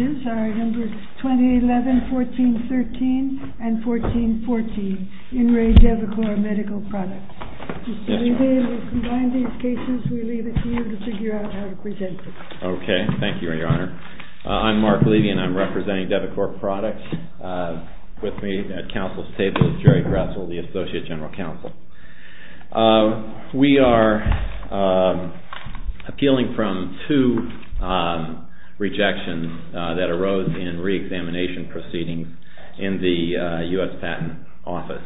OK. Thank you, Your Honor. I'm Mark Levy and I'm representing Devicor Products. With me at counsel's table is Jerry Gressel, the Associate General Counsel. We are appealing from two rejections that arose in reexamination proceedings in the U.S. Patent Office.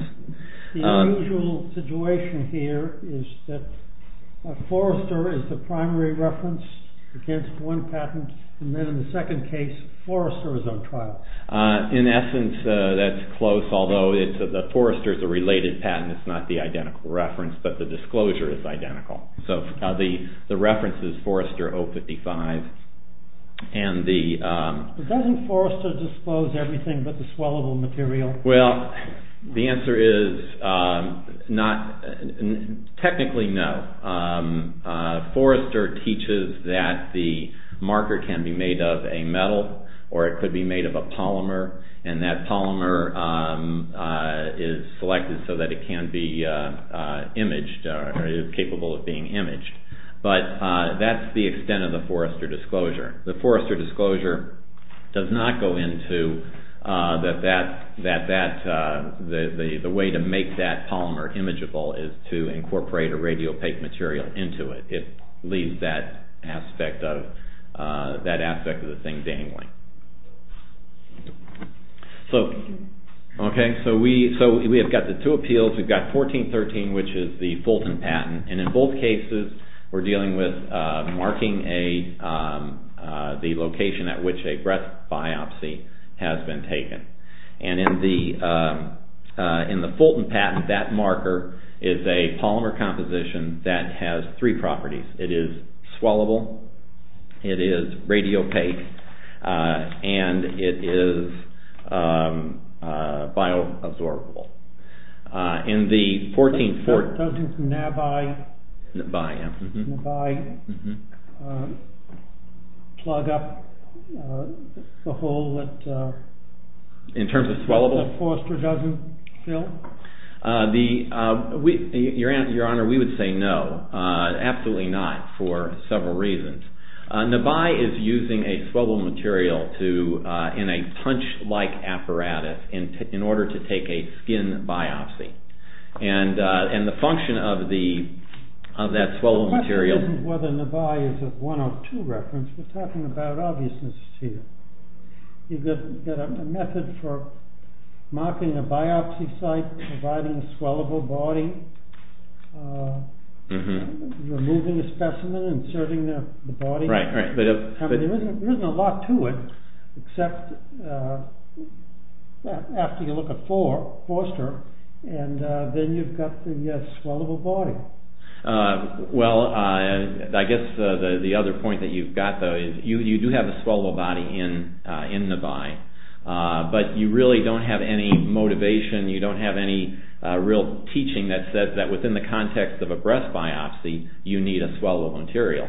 The unusual situation here is that Forrester is the primary reference against one patent and then in the second case Forrester is on trial. In essence, that's close, although Forrester is a related patent. It's not the identical reference, but the disclosure is identical. So the reference is Forrester 055. Doesn't Forrester disclose everything but the swallowable material? Well, the answer is technically no. Forrester teaches that the marker can be made of a metal or it could be made of a polymer and that polymer is selected so that it can be imaged or is capable of being imaged. But that's the extent of the Forrester disclosure. The Forrester disclosure does not go into that the way to make that polymer imageable is to incorporate a radiopaque material into it. It leaves that aspect of the thing dangling. So we have got the two appeals. We've got 1413, which is the Fulton patent, and in both cases we're dealing with marking the location at which a breath biopsy has been taken. And in the Fulton patent, that marker is a polymer composition that has three properties. It is swallowable, it is radiopaque, and it is bioabsorbable. Doesn't NABI plug up the hole that Forrester doesn't fill? Your Honor, we would say no, absolutely not, for several reasons. NABI is using a swallowable material in a punch-like apparatus in order to take a skin biopsy. The question is whether NABI is a one or two reference. We're talking about obviousness here. You've got a method for marking a biopsy site, providing a swallowable body, removing a specimen, inserting the body. There isn't a lot to it, except after you look at Forrester, and then you've got the swallowable body. Well, I guess the other point that you've got, though, is you do have a swallowable body in NABI, but you really don't have any motivation, you don't have any real teaching that says that within the context of a breath biopsy, you need a swallowable material.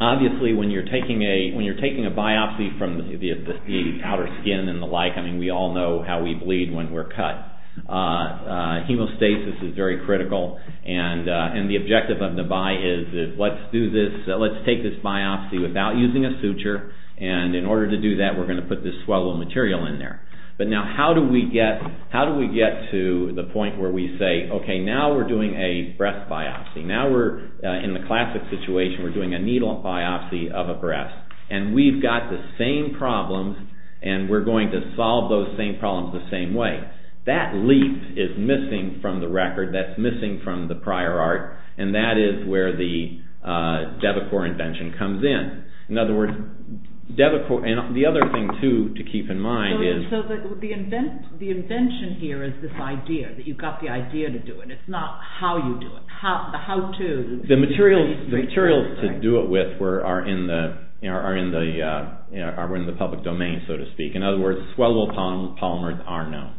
Obviously, when you're taking a biopsy from the outer skin and the like, we all know how we bleed when we're cut. Hemostasis is very critical, and the objective of NABI is let's take this biopsy without using a suture, and in order to do that, we're going to put this swallowable material in there. But now, how do we get to the point where we say, okay, now we're doing a breath biopsy, now we're in the classic situation, we're doing a needle biopsy of a breath, and we've got the same problems, and we're going to solve those same problems the same way. That leap is missing from the record, that's missing from the prior art, and that is where the DEVACOR invention comes in. In other words, DEVACOR, and the other thing, too, to keep in mind is... So the invention here is this idea, that you've got the idea to do it, it's not how you do it, the how-to. The materials to do it with are in the public domain, so to speak. In other words, swallowable polymers are known.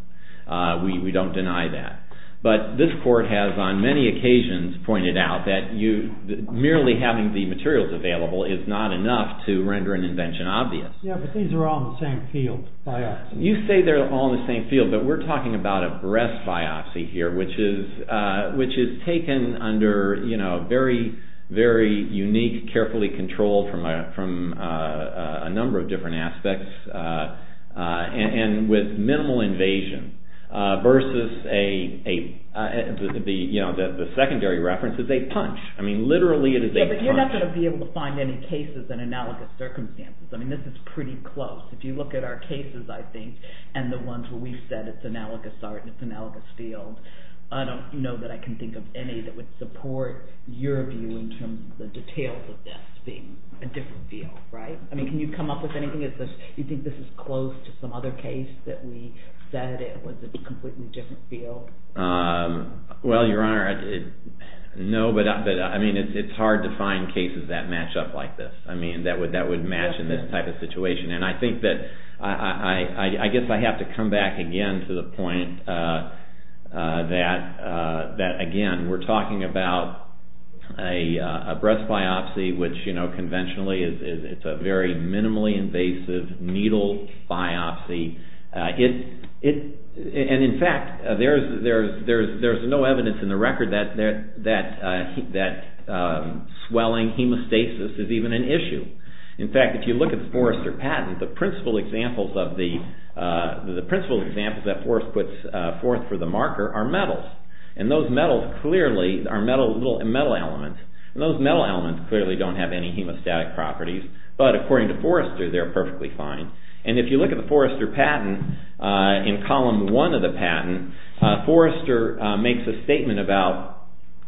We don't deny that. But this court has on many occasions pointed out that merely having the materials available is not enough to render an invention obvious. Yeah, but these are all in the same field, biopsies. You say they're all in the same field, but we're talking about a breath biopsy here, which is taken under very, very unique, carefully controlled from a number of different aspects, and with minimal invasion, versus a... the secondary reference is a punch. I mean, literally, it is a punch. Yeah, but you're not going to be able to find any cases in analogous circumstances. I mean, this is pretty close. If you look at our cases, I think, and the ones where we've said it's analogous art and it's analogous field, I don't know that I can think of any that would support your view in terms of the details of this being a different field, right? I mean, can you come up with anything? Do you think this is close to some other case that we said it was a completely different field? Well, Your Honor, no, but I mean, it's hard to find cases that match up like this. I mean, that would match in this type of situation, and I think that... I guess I have to come back again to the point that, again, we're talking about a breath biopsy, which, you know, conventionally, it's a very minimally invasive needle biopsy. And, in fact, there's no evidence in the record that swelling, hemostasis, is even an issue. In fact, if you look at the Forrester patent, the principal examples that Forrester puts forth for the marker are metals, and those metals clearly are metal elements, and those metal elements clearly don't have any hemostatic properties, but according to Forrester, they're perfectly fine. And if you look at the Forrester patent, in column one of the patent, Forrester makes a statement about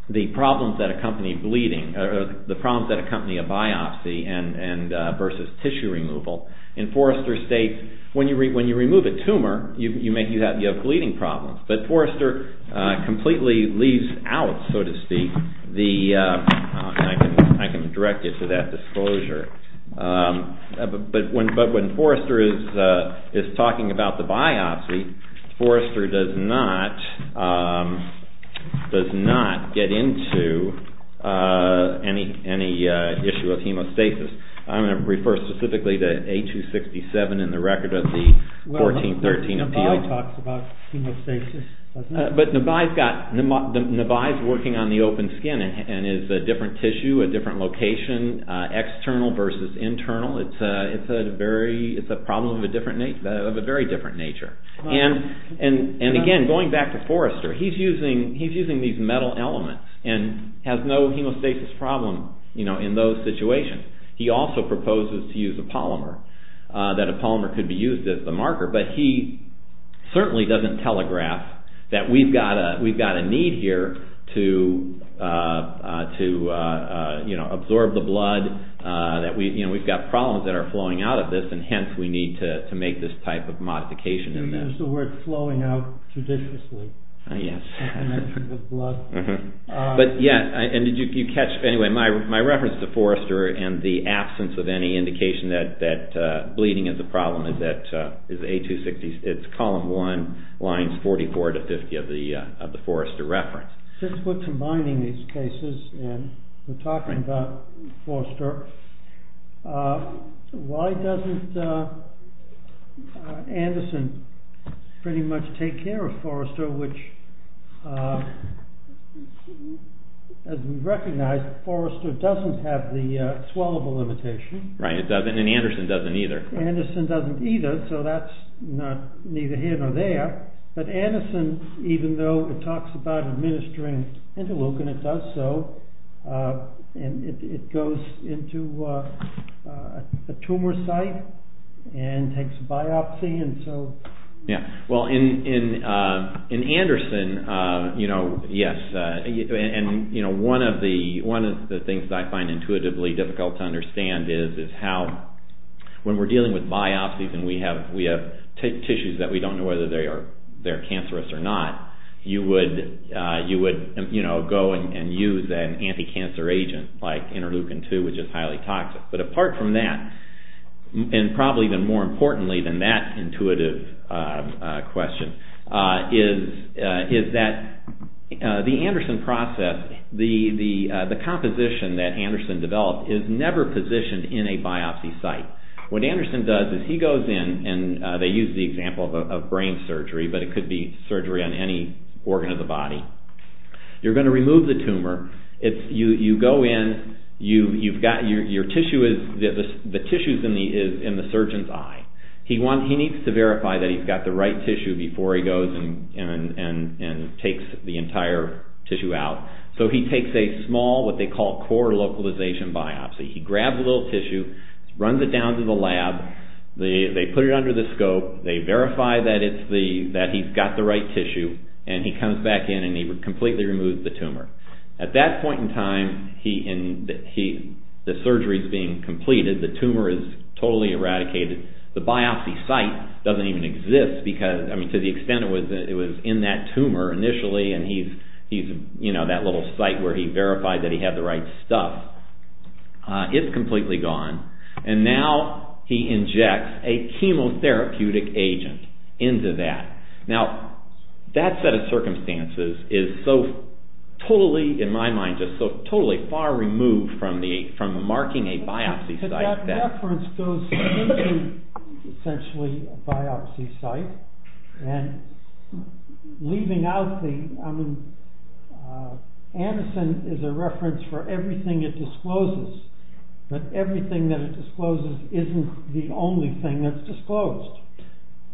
the problems that accompany bleeding, the problems that accompany a biopsy versus tissue removal, and Forrester states, when you remove a tumor, you have bleeding problems. But Forrester completely leaves out, so to speak, the... I can direct you to that disclosure. But when Forrester is talking about the biopsy, Forrester does not get into any issue of hemostasis. I'm going to refer specifically to A267 in the record of the 1413 appeal. Nebai talks about hemostasis, doesn't he? But Nebai's got... Nebai's working on the open skin and is a different tissue, a different location, external versus internal. It's a problem of a very different nature. And again, going back to Forrester, he's using these metal elements and has no hemostasis problem in those situations. He also proposes to use a polymer, that a polymer could be used as the marker, but he certainly doesn't telegraph that we've got a need here to absorb the blood, that we've got problems that are flowing out of this, and hence we need to make this type of modification. There's the word flowing out judiciously. Yes. I mentioned the blood. But yes, and did you catch, anyway, my reference to Forrester and the absence of any indication that bleeding is a problem is that, is A267, it's column one, lines 44 to 50 of the Forrester reference. Since we're combining these cases and we're talking about Forrester, why doesn't Anderson pretty much take care of Forrester, which, as we recognize, Forrester doesn't have the swellable limitation. Right, it doesn't, and Anderson doesn't either. So that's neither here nor there. But Anderson, even though it talks about administering interleukin, it does so, and it goes into a tumor site and takes a biopsy and so. Well, in Anderson, yes, and one of the things that I find intuitively difficult to understand is how, when we're dealing with biopsies and we have tissues that we don't know whether they're cancerous or not, you would go and use an anti-cancer agent like interleukin-2, which is highly toxic. But apart from that, and probably even more importantly than that intuitive question, is that the Anderson process, the composition that Anderson developed is never positioned in a biopsy site. What Anderson does is he goes in and they use the example of brain surgery, but it could be surgery on any organ of the body. You're going to remove the tumor. You go in, you've got your tissue, the tissue is in the surgeon's eye. He needs to verify that he's got the right tissue before he goes and takes the entire tissue out. So he takes a small, what they call core localization biopsy. He grabs a little tissue, runs it down to the lab. They put it under the scope. They verify that he's got the right tissue and he comes back in and he completely removes the tumor. At that point in time, the surgery is being completed. The tumor is totally eradicated. The biopsy site doesn't even exist because, I mean, to the extent it was in that tumor initially and he's, you know, that little site where he verified that he had the right stuff, it's completely gone. And now he injects a chemotherapeutic agent into that. Now, that set of circumstances is so totally, in my mind, just so totally far removed from marking a biopsy site. That reference goes into, essentially, a biopsy site. And leaving out the, I mean, Anderson is a reference for everything it discloses. But everything that it discloses isn't the only thing that's disclosed.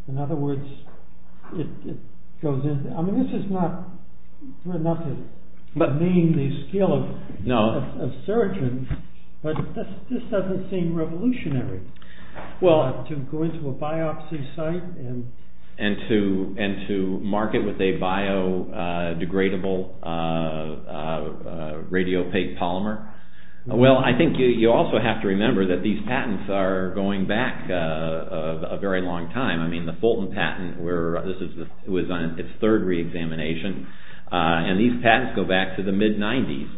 In other words, it goes into, I mean, this is not, not to demean the skill of surgeons. But this doesn't seem revolutionary. Well, to go into a biopsy site and to mark it with a biodegradable radiopaque polymer. Well, I think you also have to remember that these patents are going back a very long time. I mean, the Fulton patent, this was on its third re-examination. And these patents go back to the mid-90s.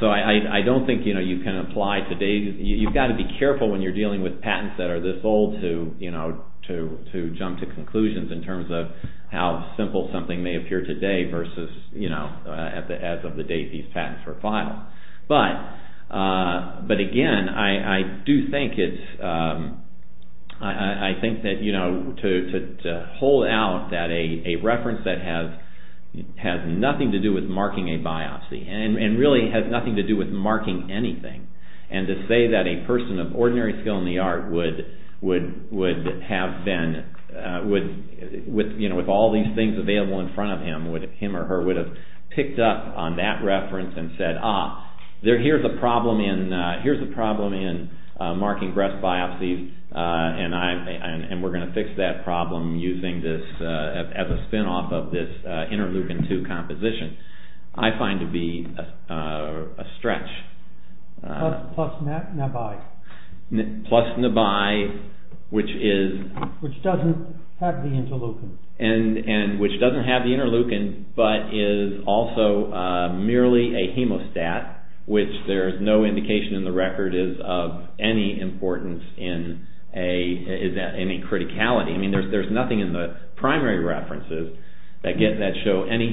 So I don't think you can apply today. You've got to be careful when you're dealing with patents that are this old to jump to conclusions in terms of how simple something may appear today versus as of the date these patents were filed. But again, I do think that to hold out that a reference that has nothing to do with marking a biopsy. And really has nothing to do with marking anything. And to say that a person of ordinary skill in the art would have been, with all these things available in front of him, him or her, would have picked up on that reference and said, ah, here's a problem in marking breast biopsies. And we're going to fix that problem using this as a spin-off of this interleukin-2 composition. I find to be a stretch. Plus NABI. Plus NABI, which is... Which doesn't have the interleukin. And which doesn't have the interleukin, but is also merely a hemostat, which there's no indication in the record is of any importance in a criticality. There's nothing in the primary references that show any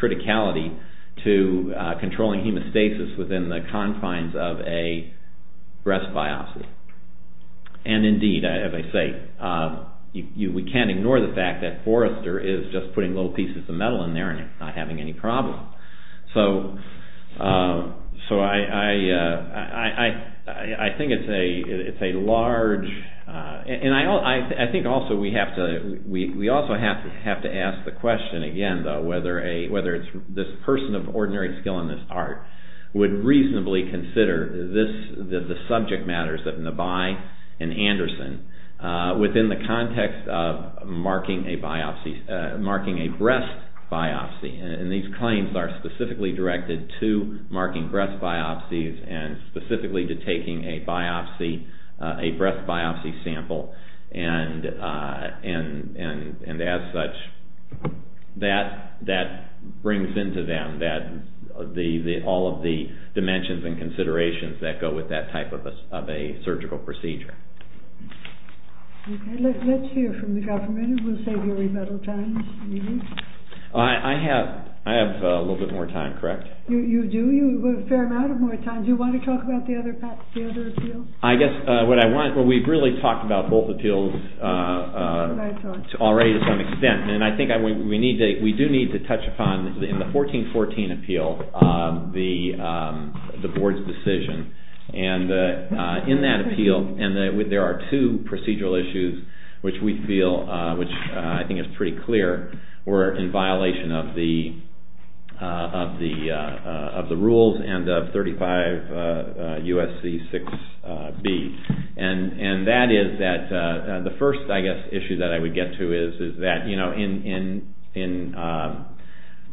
criticality to controlling hemostasis within the confines of a breast biopsy. And indeed, as I say, we can't ignore the fact that Forrester is just putting little pieces of metal in there and not having any problem. So I think it's a large... And I think also we have to... We also have to ask the question again, though, whether this person of ordinary skill in this art would reasonably consider the subject matters of NABI and Anderson within the context of marking a biopsy, marking a breast biopsy. And these claims are specifically directed to marking breast biopsies and specifically to taking a biopsy, a breast biopsy sample. And as such, that brings into them all of the dimensions and considerations that go with that type of a surgical procedure. Okay, let's hear from the government. We'll save you a little time. I have a little bit more time, correct? You do? You have a fair amount of more time. Do you want to talk about the other appeals? I guess what I want... Well, we've really talked about both appeals already to some extent. And I think we do need to touch upon, in the 1414 appeal, the board's decision. And in that appeal, there are two procedural issues which we feel, which I think is pretty clear, were in violation of the rules and of 35 U.S.C. 6B. And that is that the first, I guess, issue that I would get to is that in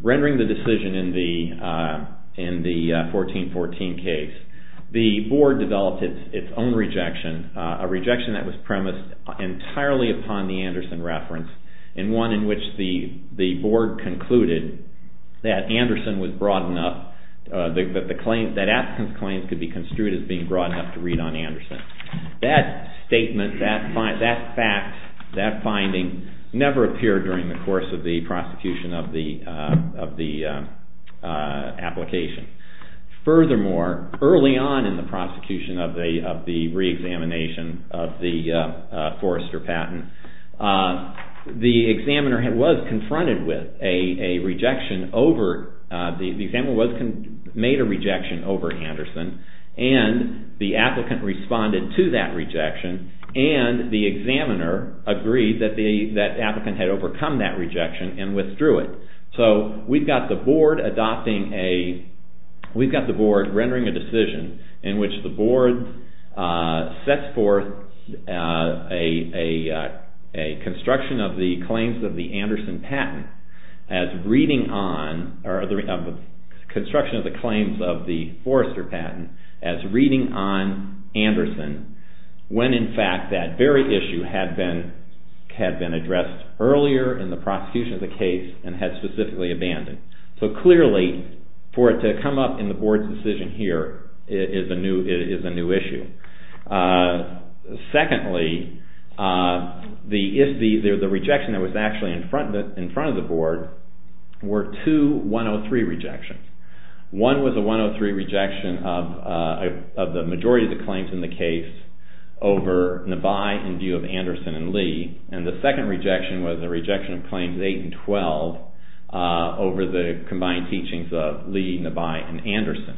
rendering the decision in the 1414 case, the board developed its own rejection, a rejection that was premised entirely upon the Anderson reference, and one in which the board concluded that Anderson was broad enough, that the claim, that Atkins' claims could be construed as being broad enough to read on Anderson. That statement, that fact, that finding never appeared during the course of the prosecution of the application. Furthermore, early on in the prosecution of the re-examination of the Forrester patent, the examiner was confronted with a rejection over... The examiner made a rejection over Anderson, and the applicant responded to that rejection, and the examiner agreed that the applicant had overcome that rejection and withdrew it. So we've got the board adopting a, we've got the board rendering a decision in which the board sets forth a construction of the claims of the Anderson patent as reading on, or the construction of the claims of the Forrester patent as reading on Anderson, when in fact that very issue had been addressed earlier in the prosecution of the case and had specifically abandoned. So clearly, for it to come up in the board's decision here is a new issue. Secondly, the rejection that was actually in front of the board were two 103 rejections. One was a 103 rejection of the majority of the claims in the case over Nebai in view of Anderson and Lee, and the second rejection was a rejection of claims 8 and 12 over the combined teachings of Lee, Nebai, and Anderson.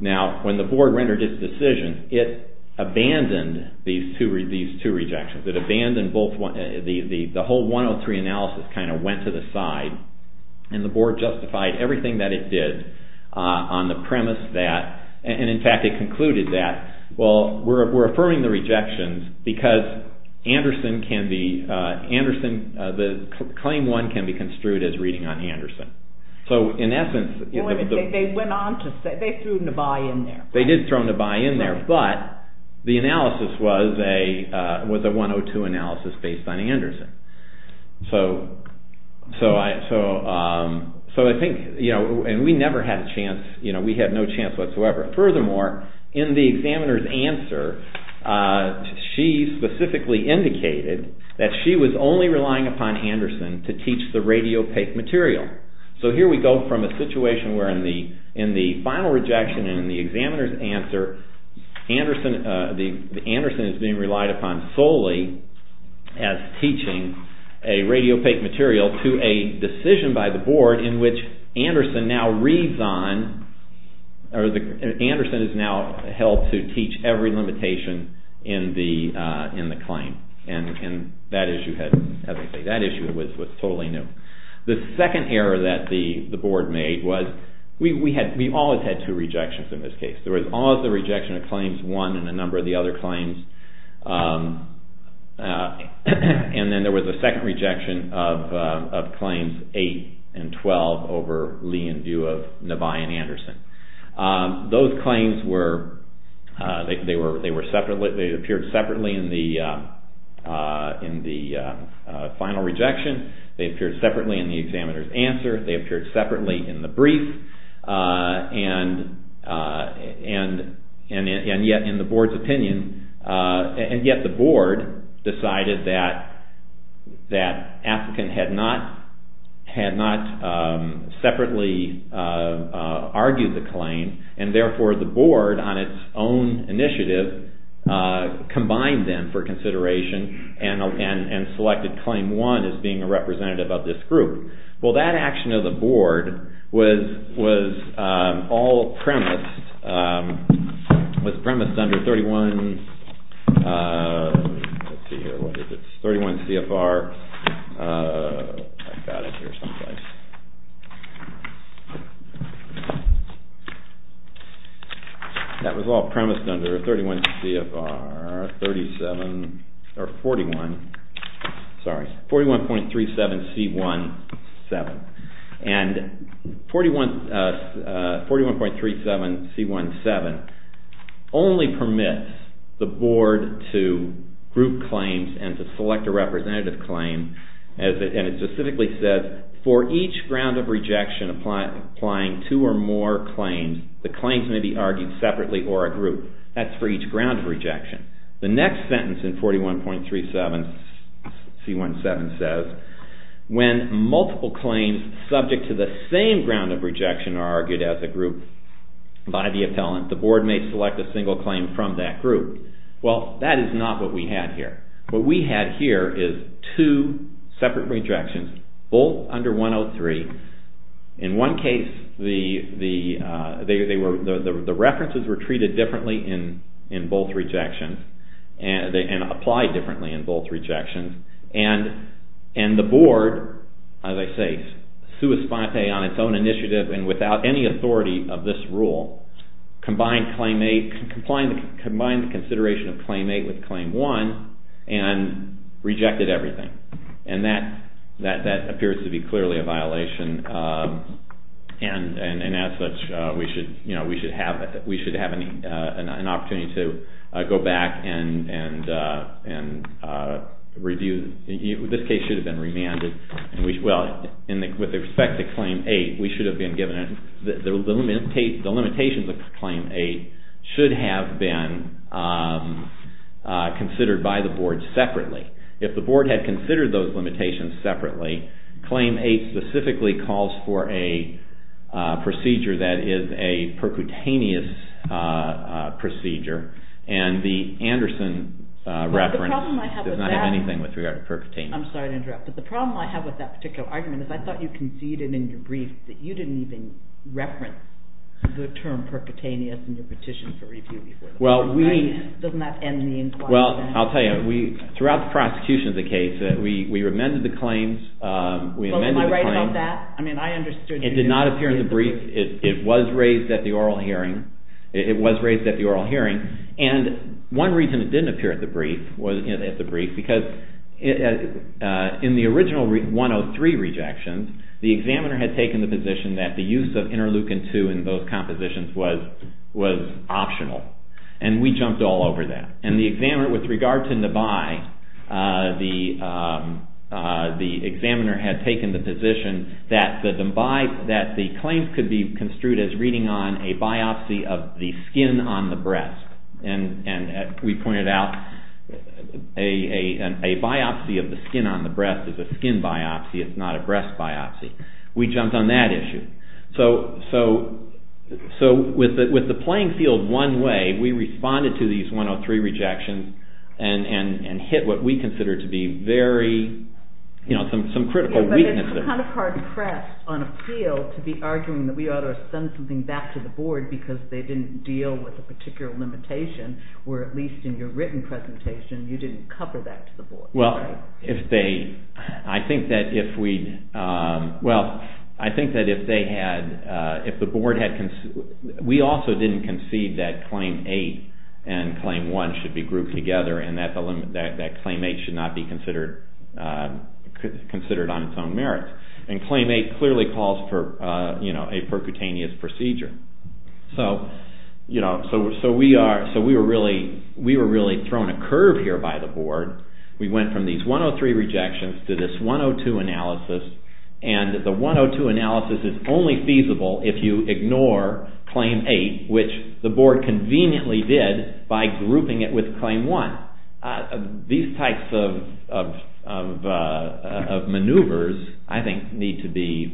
Now, when the board rendered its decision, it abandoned these two rejections. It abandoned both, the whole 103 analysis kind of went to the side, and the board justified everything that it did on the premise that, and in fact it concluded that, well, we're affirming the rejections because Anderson can be, Anderson, the claim one can be construed as reading on Anderson. So, in essence... Wait a minute, they went on to say, they threw Nebai in there. They did throw Nebai in there, but the analysis was a 102 analysis based on Anderson. So, I think, you know, and we never had a chance, you know, we had no chance whatsoever. Furthermore, in the examiner's answer, she specifically indicated that she was only relying upon Anderson to teach the radiopaque material. So, here we go from a situation where in the final rejection in the examiner's answer, Anderson is being relied upon solely as teaching a radiopaque material to a decision by the board in which Anderson now reads on, or Anderson is now held to teach every limitation in the claim. And that issue had, as I say, that issue was totally new. The second error that the board made was, we always had two rejections in this case. There was always the rejection of claims one and a number of the other claims, and then there was a second rejection of claims eight and twelve over Lee and Due of Nebai and Anderson. Those claims were, they appeared separately in the final rejection. They appeared separately in the examiner's answer. They appeared separately in the brief. And yet in the board's opinion, and yet the board decided that applicant had not separately argued the claim, and therefore the board on its own initiative combined them for consideration and selected claim one as being a representative of this group. Well, that action of the board was all premised, was premised under 31, let's see here, what is it? And 41.37C17 only permits the board to group claims and to select a representative claim, and it specifically says, for each ground of rejection applying two or more claims, the claims may be argued separately or a group. The next sentence in 41.37C17 says, when multiple claims subject to the same ground of rejection are argued as a group by the appellant, the board may select a single claim from that group. Well, that is not what we had here. What we had here is two separate rejections, both under 103. In one case, the references were treated differently in both rejections and applied differently in both rejections. And the board, as I say, sui sponte on its own initiative and without any authority of this rule, combined the consideration of claim eight with claim one and rejected everything. And that appears to be clearly a violation. And as such, we should have an opportunity to go back and review. This case should have been remanded. Well, with respect to claim eight, we should have been given, the limitations of claim eight should have been considered by the board separately. If the board had considered those limitations separately, claim eight specifically calls for a procedure that is a percutaneous procedure. And the Anderson reference does not have anything with regard to percutaneous. I'm sorry to interrupt. But the problem I have with that particular argument is I thought you conceded in your brief that you didn't even reference the term percutaneous in your petition for review. Doesn't that end the inquiry? Well, I'll tell you. Throughout the prosecution of the case, we amended the claims. Am I right about that? It did not appear in the brief. It was raised at the oral hearing. It was raised at the oral hearing. And one reason it didn't appear at the brief was because in the original 103 rejections, the examiner had taken the position that the use of interleukin-2 in those compositions was optional. And we jumped all over that. And the examiner, with regard to Nabi, the examiner had taken the position that the claims could be construed as reading on a biopsy of the skin on the breast. And we pointed out a biopsy of the skin on the breast is a skin biopsy. It's not a breast biopsy. We jumped on that issue. So with the playing field one way, we responded to these 103 rejections and hit what we considered to be very, you know, some critical weaknesses. But it's kind of hard-pressed on appeal to be arguing that we ought to send something back to the board because they didn't deal with a particular limitation, where at least in your written presentation, you didn't cover that to the board. Well, if they, I think that if we, well, I think that if they had, if the board had, we also didn't concede that Claim 8 and Claim 1 should be grouped together and that Claim 8 should not be considered on its own merits. And Claim 8 clearly calls for, you know, a percutaneous procedure. So, you know, so we are, so we were really, we were really thrown a curve here by the board. We went from these 103 rejections to this 102 analysis. And the 102 analysis is only feasible if you ignore Claim 8, which the board conveniently did by grouping it with Claim 1. These types of maneuvers, I think, need to be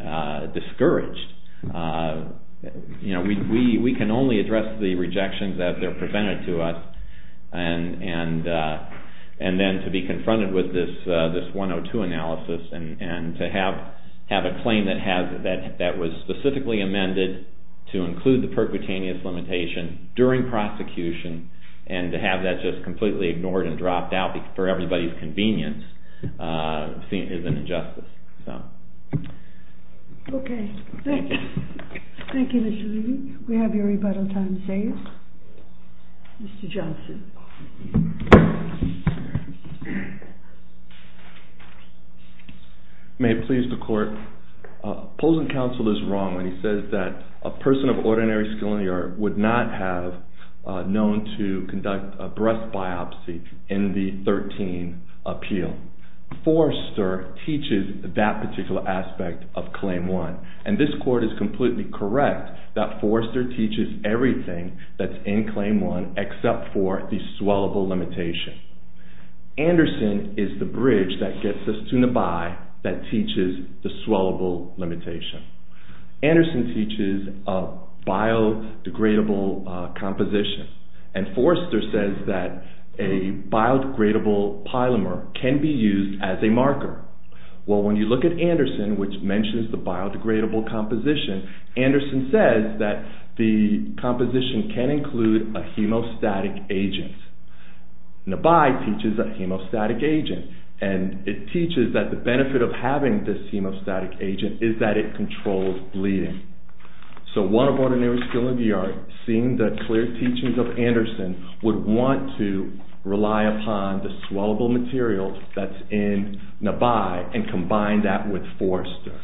discouraged. You know, we can only address the rejections as they're presented to us. And then to be confronted with this 102 analysis and to have a claim that was specifically amended to include the percutaneous limitation during prosecution and to have that just completely ignored and dropped out for everybody's convenience is an injustice. Okay. Thank you. Thank you, Mr. Levy. We have your rebuttal time saved. Mr. Johnson. May it please the Court. Opposing counsel is wrong when he says that a person of ordinary skill in the art would not have known to conduct a breast biopsy in the 13 appeal. Forrester teaches that particular aspect of Claim 1. And this Court is completely correct that Forrester teaches everything that's in Claim 1 except for the swallowable limitation. Anderson is the bridge that gets us to Nebai that teaches the swallowable limitation. Anderson teaches a biodegradable composition. And Forrester says that a biodegradable polymer can be used as a marker. Well, when you look at Anderson, which mentions the biodegradable composition, Anderson says that the composition can include a hemostatic agent. Nebai teaches a hemostatic agent. And it teaches that the benefit of having this hemostatic agent is that it controls bleeding. So one of ordinary skill in the art, seeing the clear teachings of Anderson, would want to rely upon the swallowable material that's in Nebai and combine that with Forrester.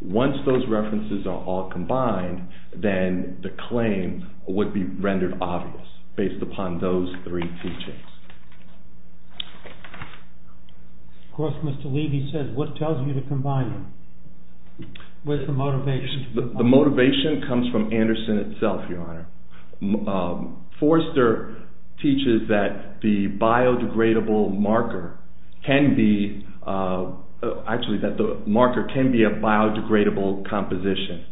Once those references are all combined, then the claim would be rendered obvious based upon those three teachings. Of course, Mr. Levy says, what tells you to combine them? Where's the motivation? The motivation comes from Anderson itself, Your Honor. Forrester teaches that the biodegradable marker can be a biodegradable composition.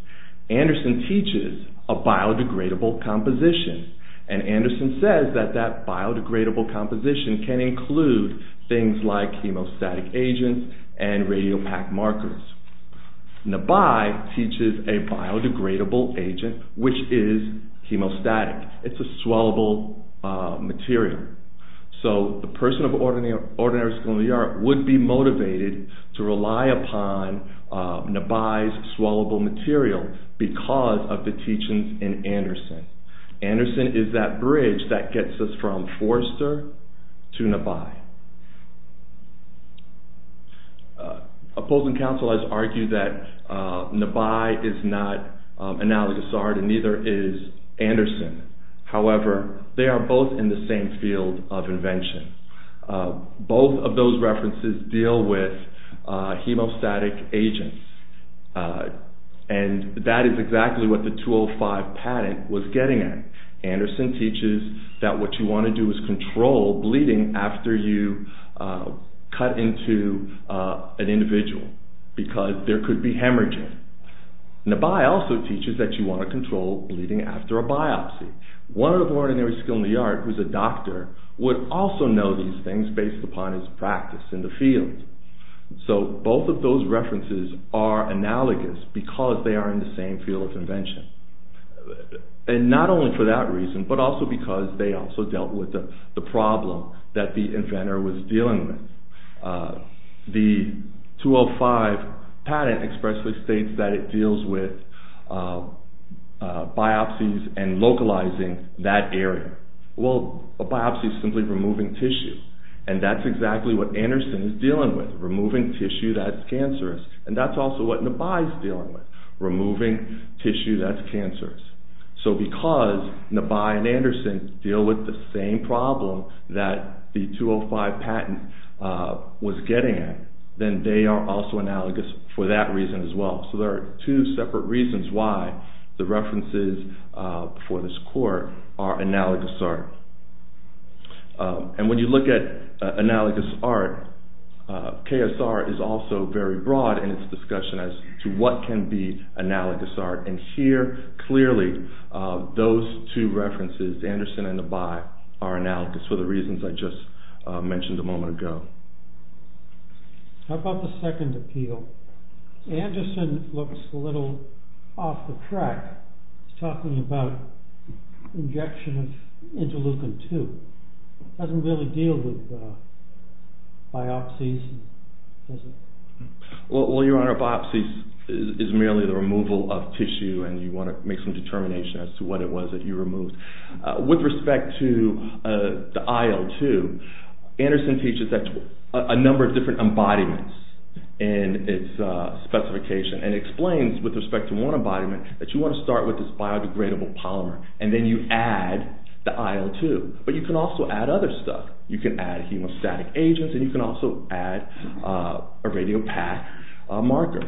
Anderson teaches a biodegradable composition. And Anderson says that that biodegradable composition can include things like hemostatic agents and radiopact markers. Nebai teaches a biodegradable agent, which is hemostatic. It's a swallowable material. So the person of ordinary skill in the art would be motivated to rely upon Nebai's swallowable material because of the teachings in Anderson. Anderson is that bridge that gets us from Forrester to Nebai. Opposing counsel has argued that Nebai is not analogous art and neither is Anderson. However, they are both in the same field of invention. Both of those references deal with hemostatic agents. And that is exactly what the 205 patent was getting at. Anderson teaches that what you want to do is control bleeding after you cut into an individual because there could be hemorrhaging. Nebai also teaches that you want to control bleeding after a biopsy. One of the ordinary skill in the art, who's a doctor, would also know these things based upon his practice in the field. So both of those references are analogous because they are in the same field of invention. And not only for that reason, but also because they also dealt with the problem that the inventor was dealing with. The 205 patent expressly states that it deals with biopsies and localizing that area. Well, a biopsy is simply removing tissue. And that's exactly what Anderson is dealing with, removing tissue that's cancerous. And that's also what Nebai is dealing with, removing tissue that's cancerous. So because Nebai and Anderson deal with the same problem that the 205 patent was getting at, then they are also analogous for that reason as well. So there are two separate reasons why the references for this court are analogous art. And when you look at analogous art, KSR is also very broad in its discussion as to what can be analogous art. And here, clearly, those two references, Anderson and Nebai, are analogous for the reasons I just mentioned a moment ago. How about the second appeal? Anderson looks a little off the track. He's talking about injection of interleukin-2. It doesn't really deal with biopsies, does it? Well, Your Honor, biopsies is merely the removal of tissue, and you want to make some determination as to what it was that you removed. With respect to the IL-2, Anderson teaches a number of different embodiments in its specification, and explains with respect to one embodiment that you want to start with this biodegradable polymer, and then you add the IL-2. But you can also add other stuff. You can add hemostatic agents, and you can also add a radiopath marker.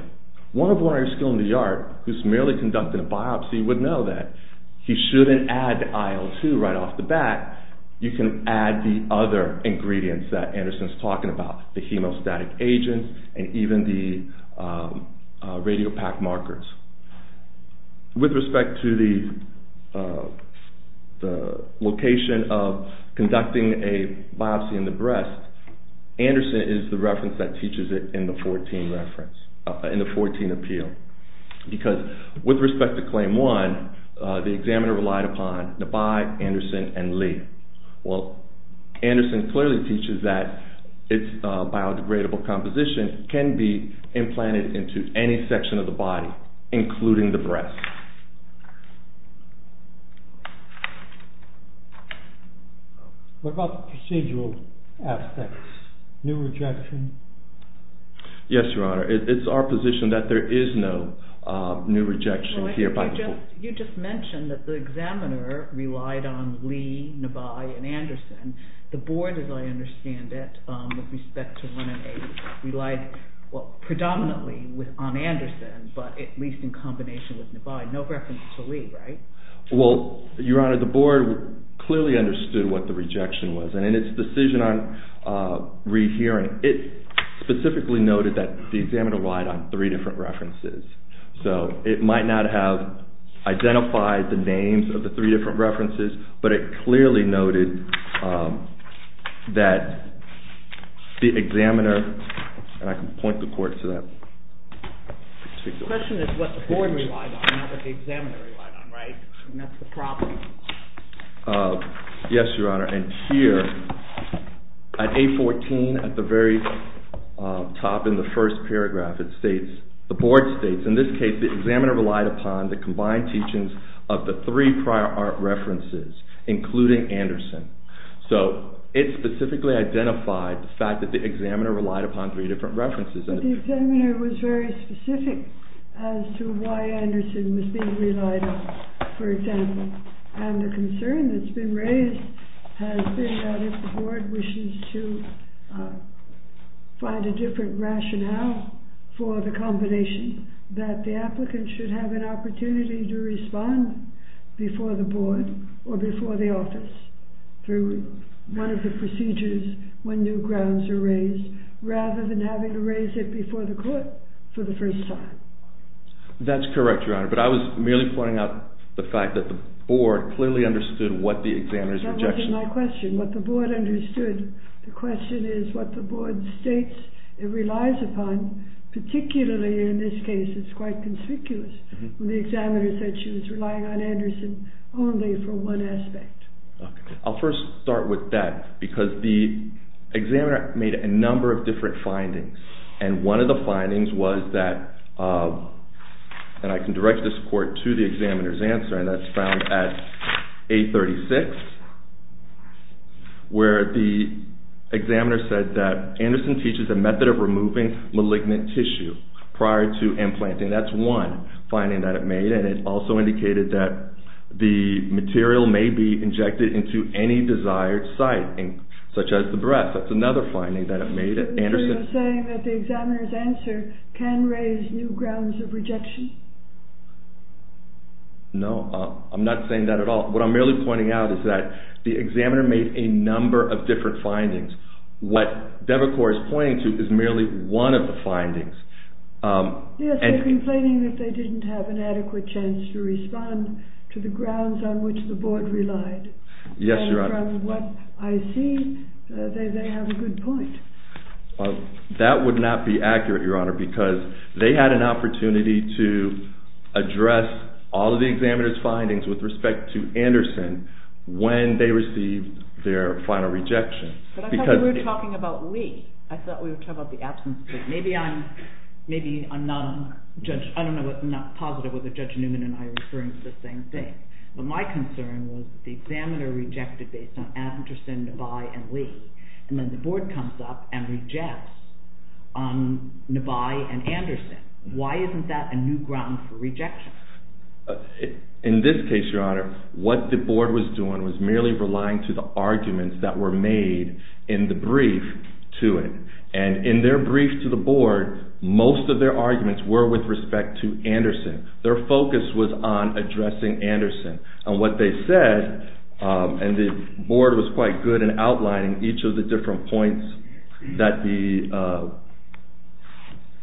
One of the lawyers still in the yard, who's merely conducting a biopsy, would know that he shouldn't add the IL-2 right off the bat. You can add the other ingredients that Anderson's talking about, the hemostatic agents and even the radiopath markers. With respect to the location of conducting a biopsy in the breast, Anderson is the reference that teaches it in the 14 appeal. Because with respect to Claim 1, the examiner relied upon Nabai, Anderson, and Lee. Well, Anderson clearly teaches that its biodegradable composition can be implanted into any section of the body, including the breast. What about the procedural aspects? New rejection? Yes, Your Honor. It's our position that there is no new rejection here. You just mentioned that the examiner relied on Lee, Nabai, and Anderson. The board, as I understand it, with respect to 1 and 8, relied predominantly on Anderson, but at least in combination with Nabai, no reference to Lee, right? Well, Your Honor, the board clearly understood what the rejection was. In its decision on rehearing, it specifically noted that the examiner relied on three different references. So it might not have identified the names of the three different references, but it clearly noted that the examiner, and I can point the court to that. The question is what the board relied on, not what the examiner relied on, right? And that's the problem. Yes, Your Honor. And here, at 814, at the very top in the first paragraph, the board states, in this case, the examiner relied upon the combined teachings of the three prior art references, including Anderson. So it specifically identified the fact that the examiner relied upon three different references. But the examiner was very specific as to why Anderson was being relied on, for example. And the concern that's been raised has been that if the board wishes to find a different rationale for the combination, that the applicant should have an opportunity to respond before the board or before the office through one of the procedures when new grounds are raised, rather than having to raise it before the court for the first time. That's correct, Your Honor, but I was merely pointing out the fact that the board clearly understood what the examiner's rejection was. That wasn't my question. What the board understood, the question is what the board states it relies upon, particularly in this case, it's quite conspicuous, when the examiner said she was relying on Anderson only for one aspect. I'll first start with that, because the examiner made a number of different findings, and one of the findings was that, and I can direct this court to the examiner's answer, and that's found at 836, where the examiner said that Anderson teaches a method of removing malignant tissue prior to implanting. That's one finding that it made, and it also indicated that the material may be injected into any desired site, such as the breast. That's another finding that it made. So you're saying that the examiner's answer can raise new grounds of rejection? No, I'm not saying that at all. What I'm merely pointing out is that the examiner made a number of different findings. What Devacor is pointing to is merely one of the findings. Yes, they're complaining that they didn't have an adequate chance to respond to the grounds on which the board relied. Yes, Your Honor. And from what I see, they have a good point. That would not be accurate, Your Honor, because they had an opportunity to address all of the examiner's findings with respect to Anderson when they received their final rejection. But I thought we were talking about Lee. I thought we were talking about the absence of Lee. Maybe I'm not positive whether Judge Newman and I are referring to the same thing, but my concern was that the examiner rejected based on Anderson, Devacor, and Lee, and then the board comes up and rejects Nebai and Anderson. Why isn't that a new ground for rejection? In this case, Your Honor, what the board was doing was merely relying to the arguments that were made in the brief to it. And in their brief to the board, most of their arguments were with respect to Anderson. Their focus was on addressing Anderson. And what they said, and the board was quite good in outlining each of the different points that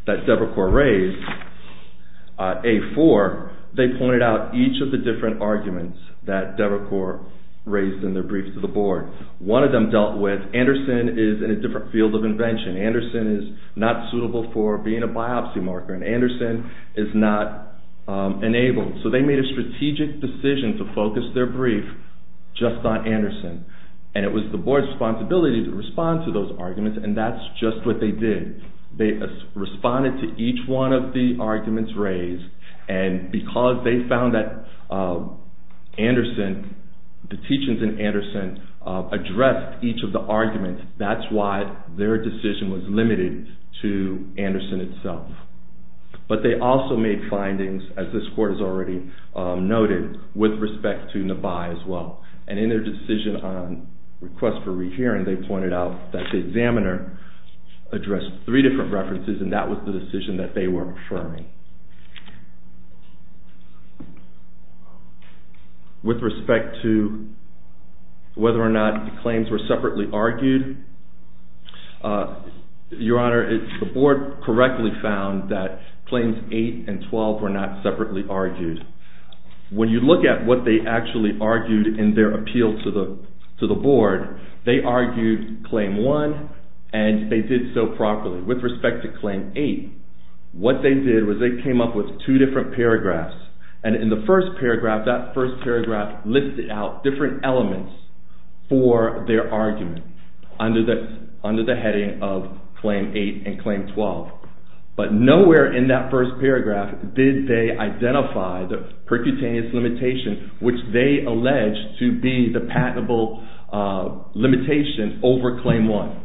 Devacor raised, A4, they pointed out each of the different arguments that Devacor raised in their brief to the board. One of them dealt with Anderson is in a different field of invention. Anderson is not suitable for being a biopsy marker, and Anderson is not enabled. So they made a strategic decision to focus their brief just on Anderson. And it was the board's responsibility to respond to those arguments, and that's just what they did. They responded to each one of the arguments raised, and because they found that Anderson, the teachings in Anderson addressed each of the arguments, that's why their decision was limited to Anderson itself. But they also made findings, as this court has already noted, with respect to Nabai as well. And in their decision on request for rehearing, they pointed out that the examiner addressed three different references, and that was the decision that they were affirming. With respect to whether or not the claims were separately argued, Your Honor, the board correctly found that claims 8 and 12 were not separately argued. When you look at what they actually argued in their appeal to the board, they argued claim 1, and they did so properly. With respect to claim 8, what they did was they came up with two different paragraphs, and in the first paragraph, that first paragraph listed out different elements for their argument. Under the heading of claim 8 and claim 12. But nowhere in that first paragraph did they identify the percutaneous limitation, which they alleged to be the patentable limitation over claim 1.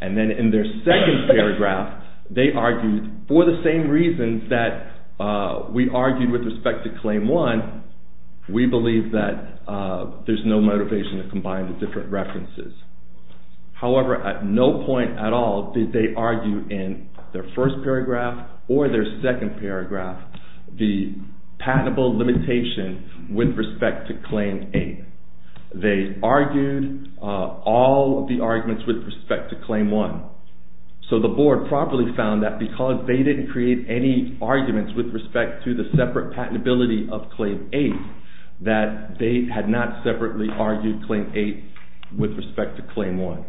And then in their second paragraph, they argued, for the same reasons that we argued with respect to claim 1, we believe that there's no motivation to combine the different references. However, at no point at all did they argue in their first paragraph or their second paragraph the patentable limitation with respect to claim 8. They argued all the arguments with respect to claim 1. So the board properly found that because they didn't create any arguments with respect to the separate patentability of claim 8, that they had not separately argued claim 8 with respect to claim 1.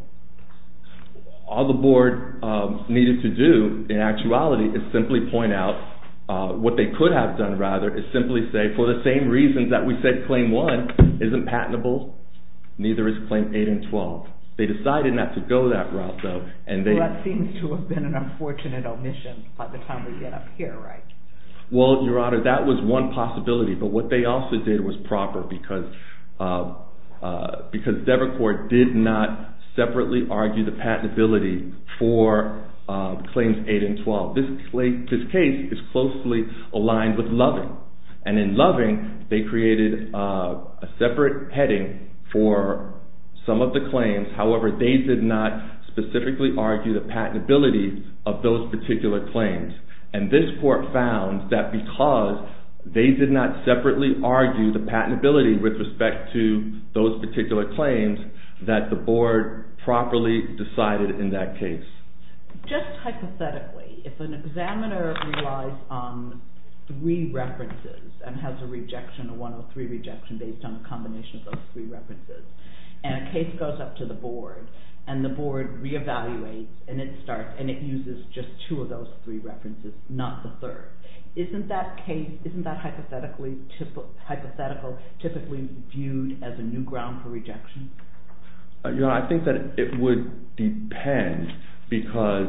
All the board needed to do, in actuality, is simply point out, what they could have done, rather, is simply say, for the same reasons that we said claim 1 isn't patentable, neither is claim 8 and 12. They decided not to go that route, though. Well, that seems to have been an unfortunate omission by the time we get up here, right? Well, Your Honor, that was one possibility, but what they also did was proper, because Devercourt did not separately argue the patentability for claims 8 and 12. This case is closely aligned with Loving. And in Loving, they created a separate heading for some of the claims. However, they did not specifically argue the patentability of those particular claims. And this court found that because they did not separately argue the patentability with respect to those particular claims, that the board properly decided in that case. Just hypothetically, if an examiner relies on three references and has a rejection, a 103 rejection, based on a combination of those three references, and a case goes up to the board, and the board reevaluates, and it starts, and it uses just two of those three references, not the third, isn't that hypothetical typically viewed as a new ground for rejection? Your Honor, I think that it would depend, because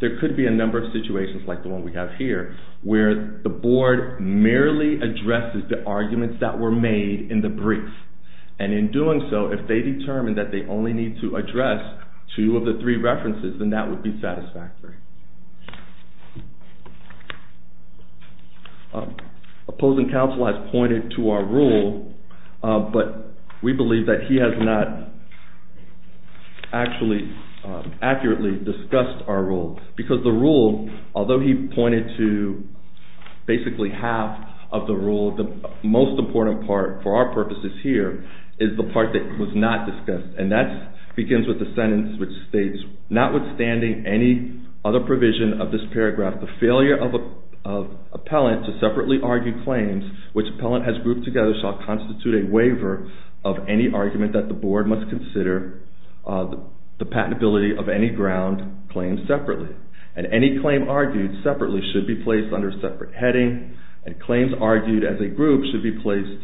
there could be a number of situations, like the one we have here, where the board merely addresses the arguments that were made in the brief. And in doing so, if they determine that they only need to address two of the three references, then that would be satisfactory. Opposing counsel has pointed to our rule, but we believe that he has not actually accurately discussed our rule. Because the rule, although he pointed to basically half of the rule, the most important part, for our purposes here, is the part that was not discussed. And that begins with the sentence which states, notwithstanding any other provision of this paragraph, the failure of appellant to separately argue claims which appellant has grouped together shall constitute a waiver of any argument that the board must consider the patentability of any ground claimed separately. And any claim argued separately should be placed under a separate heading, and claims argued as a group should be placed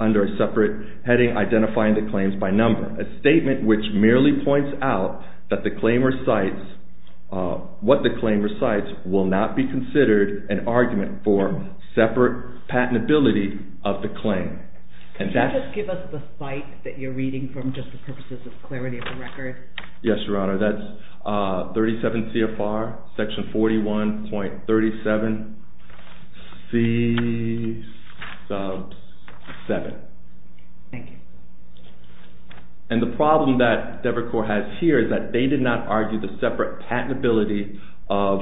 under a separate heading identifying the claims by number. A statement which merely points out that the claim recites, what the claim recites will not be considered an argument for separate patentability of the claim. Can you just give us the site that you're reading from, just for purposes of clarity of the record? Yes, your honor, that's 37 CFR, section 41.37 C sub 7. Thank you. And the problem that Devercore has here is that they did not argue the separate patentability of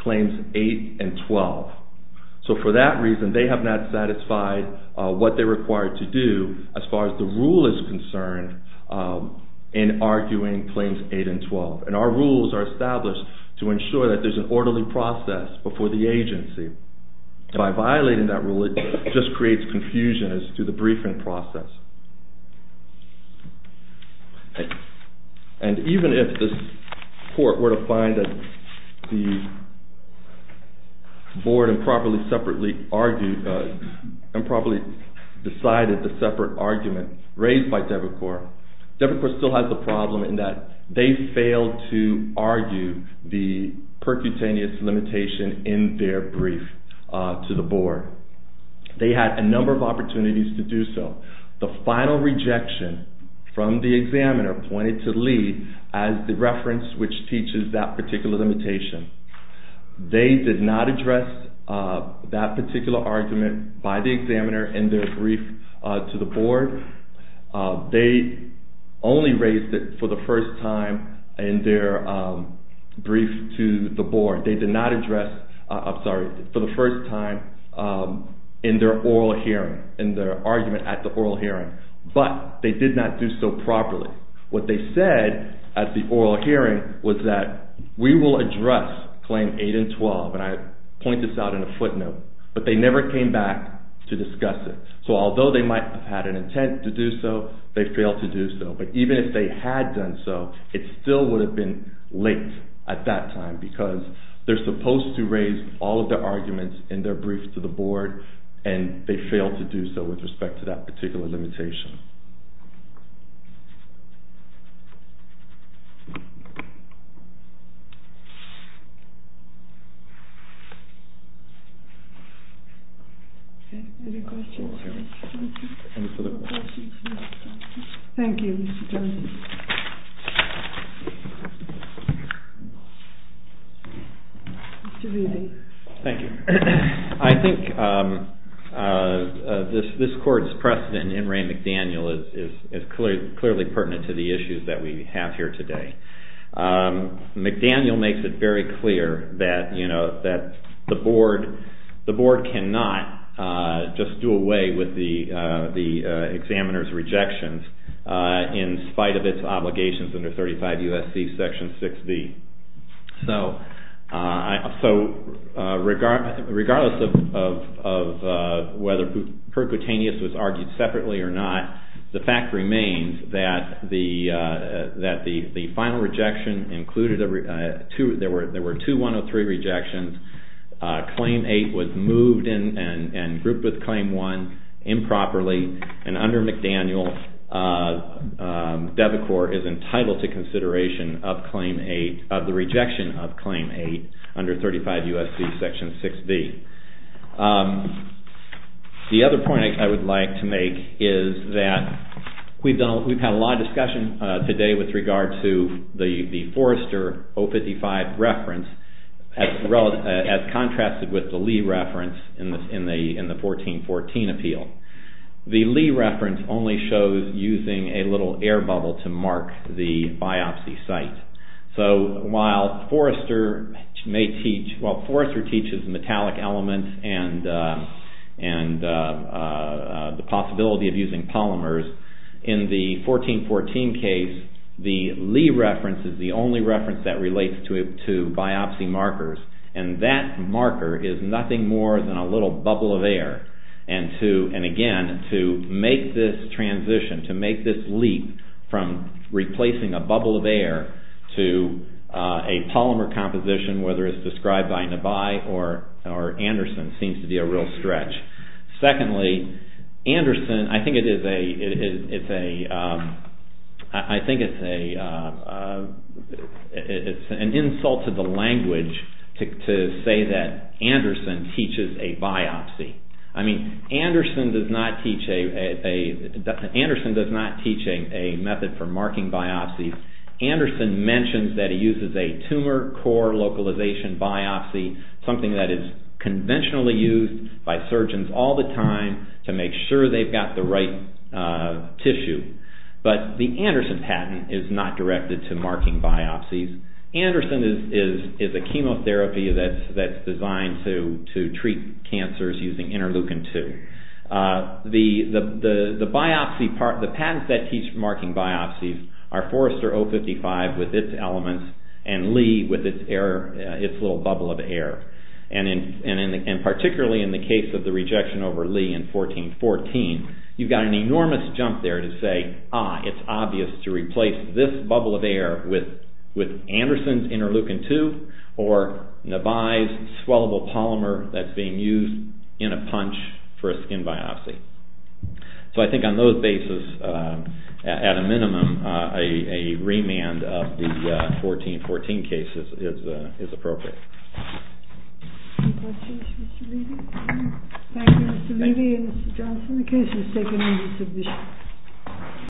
claims 8 and 12. So for that reason, they have not satisfied what they're required to do as far as the rule is concerned in arguing claims 8 and 12. And our rules are established to ensure that there's an orderly process before the agency. By violating that rule, it just creates confusion as to the briefing process. And even if this court were to find that the board improperly decided the separate argument raised by Devercore, Devercore still has the problem in that they failed to argue the percutaneous limitation in their brief to the board. They had a number of opportunities to do so. The final rejection from the examiner pointed to Lee as the reference which teaches that particular limitation. They did not address that particular argument by the examiner in their brief to the board. They only raised it for the first time in their brief to the board. They did not address, I'm sorry, for the first time in their oral hearing, in their argument at the oral hearing. But they did not do so properly. What they said at the oral hearing was that we will address claims 8 and 12. And I point this out in a footnote. But they never came back to discuss it. So although they might have had an intent to do so, they failed to do so. But even if they had done so, it still would have been late at that time because they are supposed to raise all of their arguments in their brief to the board and they failed to do so with respect to that particular limitation. Any questions? Thank you. Thank you. Thank you. Thank you. McDaniel is clearly pertinent to the issues that we have here today. McDaniel makes it very clear that the board cannot just do away with the examiner's rejections in spite of its obligations under 35 U.S.C. Section 6B. So regardless of whether per cutaneous was argued separately or not, the fact remains that the final rejection included, there were two 103 rejections. Claim 8 was moved and grouped with Claim 1 improperly. And under McDaniel, DEVACOR is entitled to consideration of the rejection of Claim 8 under 35 U.S.C. Section 6B. The other point I would like to make is that we've had a lot of discussion today with regard to the Forrester 055 reference as contrasted with the Lee reference in the 1414 appeal. The Lee reference only shows using a little air bubble to mark the biopsy site. So while Forrester may teach, well Forrester teaches metallic elements and the possibility of using polymers. In the 1414 case, the Lee reference is the only reference that relates to biopsy markers. And that marker is nothing more than a little bubble of air. And again, to make this transition, to make this leap from replacing a bubble of air to a polymer composition, whether it's described by Nabai or Anderson, seems to be a real stretch. Secondly, Anderson, I think it's an insult to the language to say that Anderson teaches a biopsy. I mean, Anderson does not teach a method for marking biopsies. Anderson mentions that he uses a tumor core localization biopsy, something that is conventionally used by surgeons all the time to make sure they've got the right tissue. But the Anderson patent is not directed to marking biopsies. Anderson is a chemotherapy that's designed to treat cancers using interleukin-2. The patents that teach marking biopsies are Forrester 055 with its elements and Lee with its little bubble of air. And particularly in the case of the rejection over Lee in 1414, you've got an enormous jump there to say, ah, it's obvious to replace this bubble of air with Anderson's interleukin-2 or Nabai's swallowable polymer that's being used in a punch for a skin biopsy. So I think on those bases, at a minimum, a remand of the 1414 case is appropriate. Thank you, Mr. Lee. Thank you, Mr. Lee and Mr. Johnson. The case is taken into submission.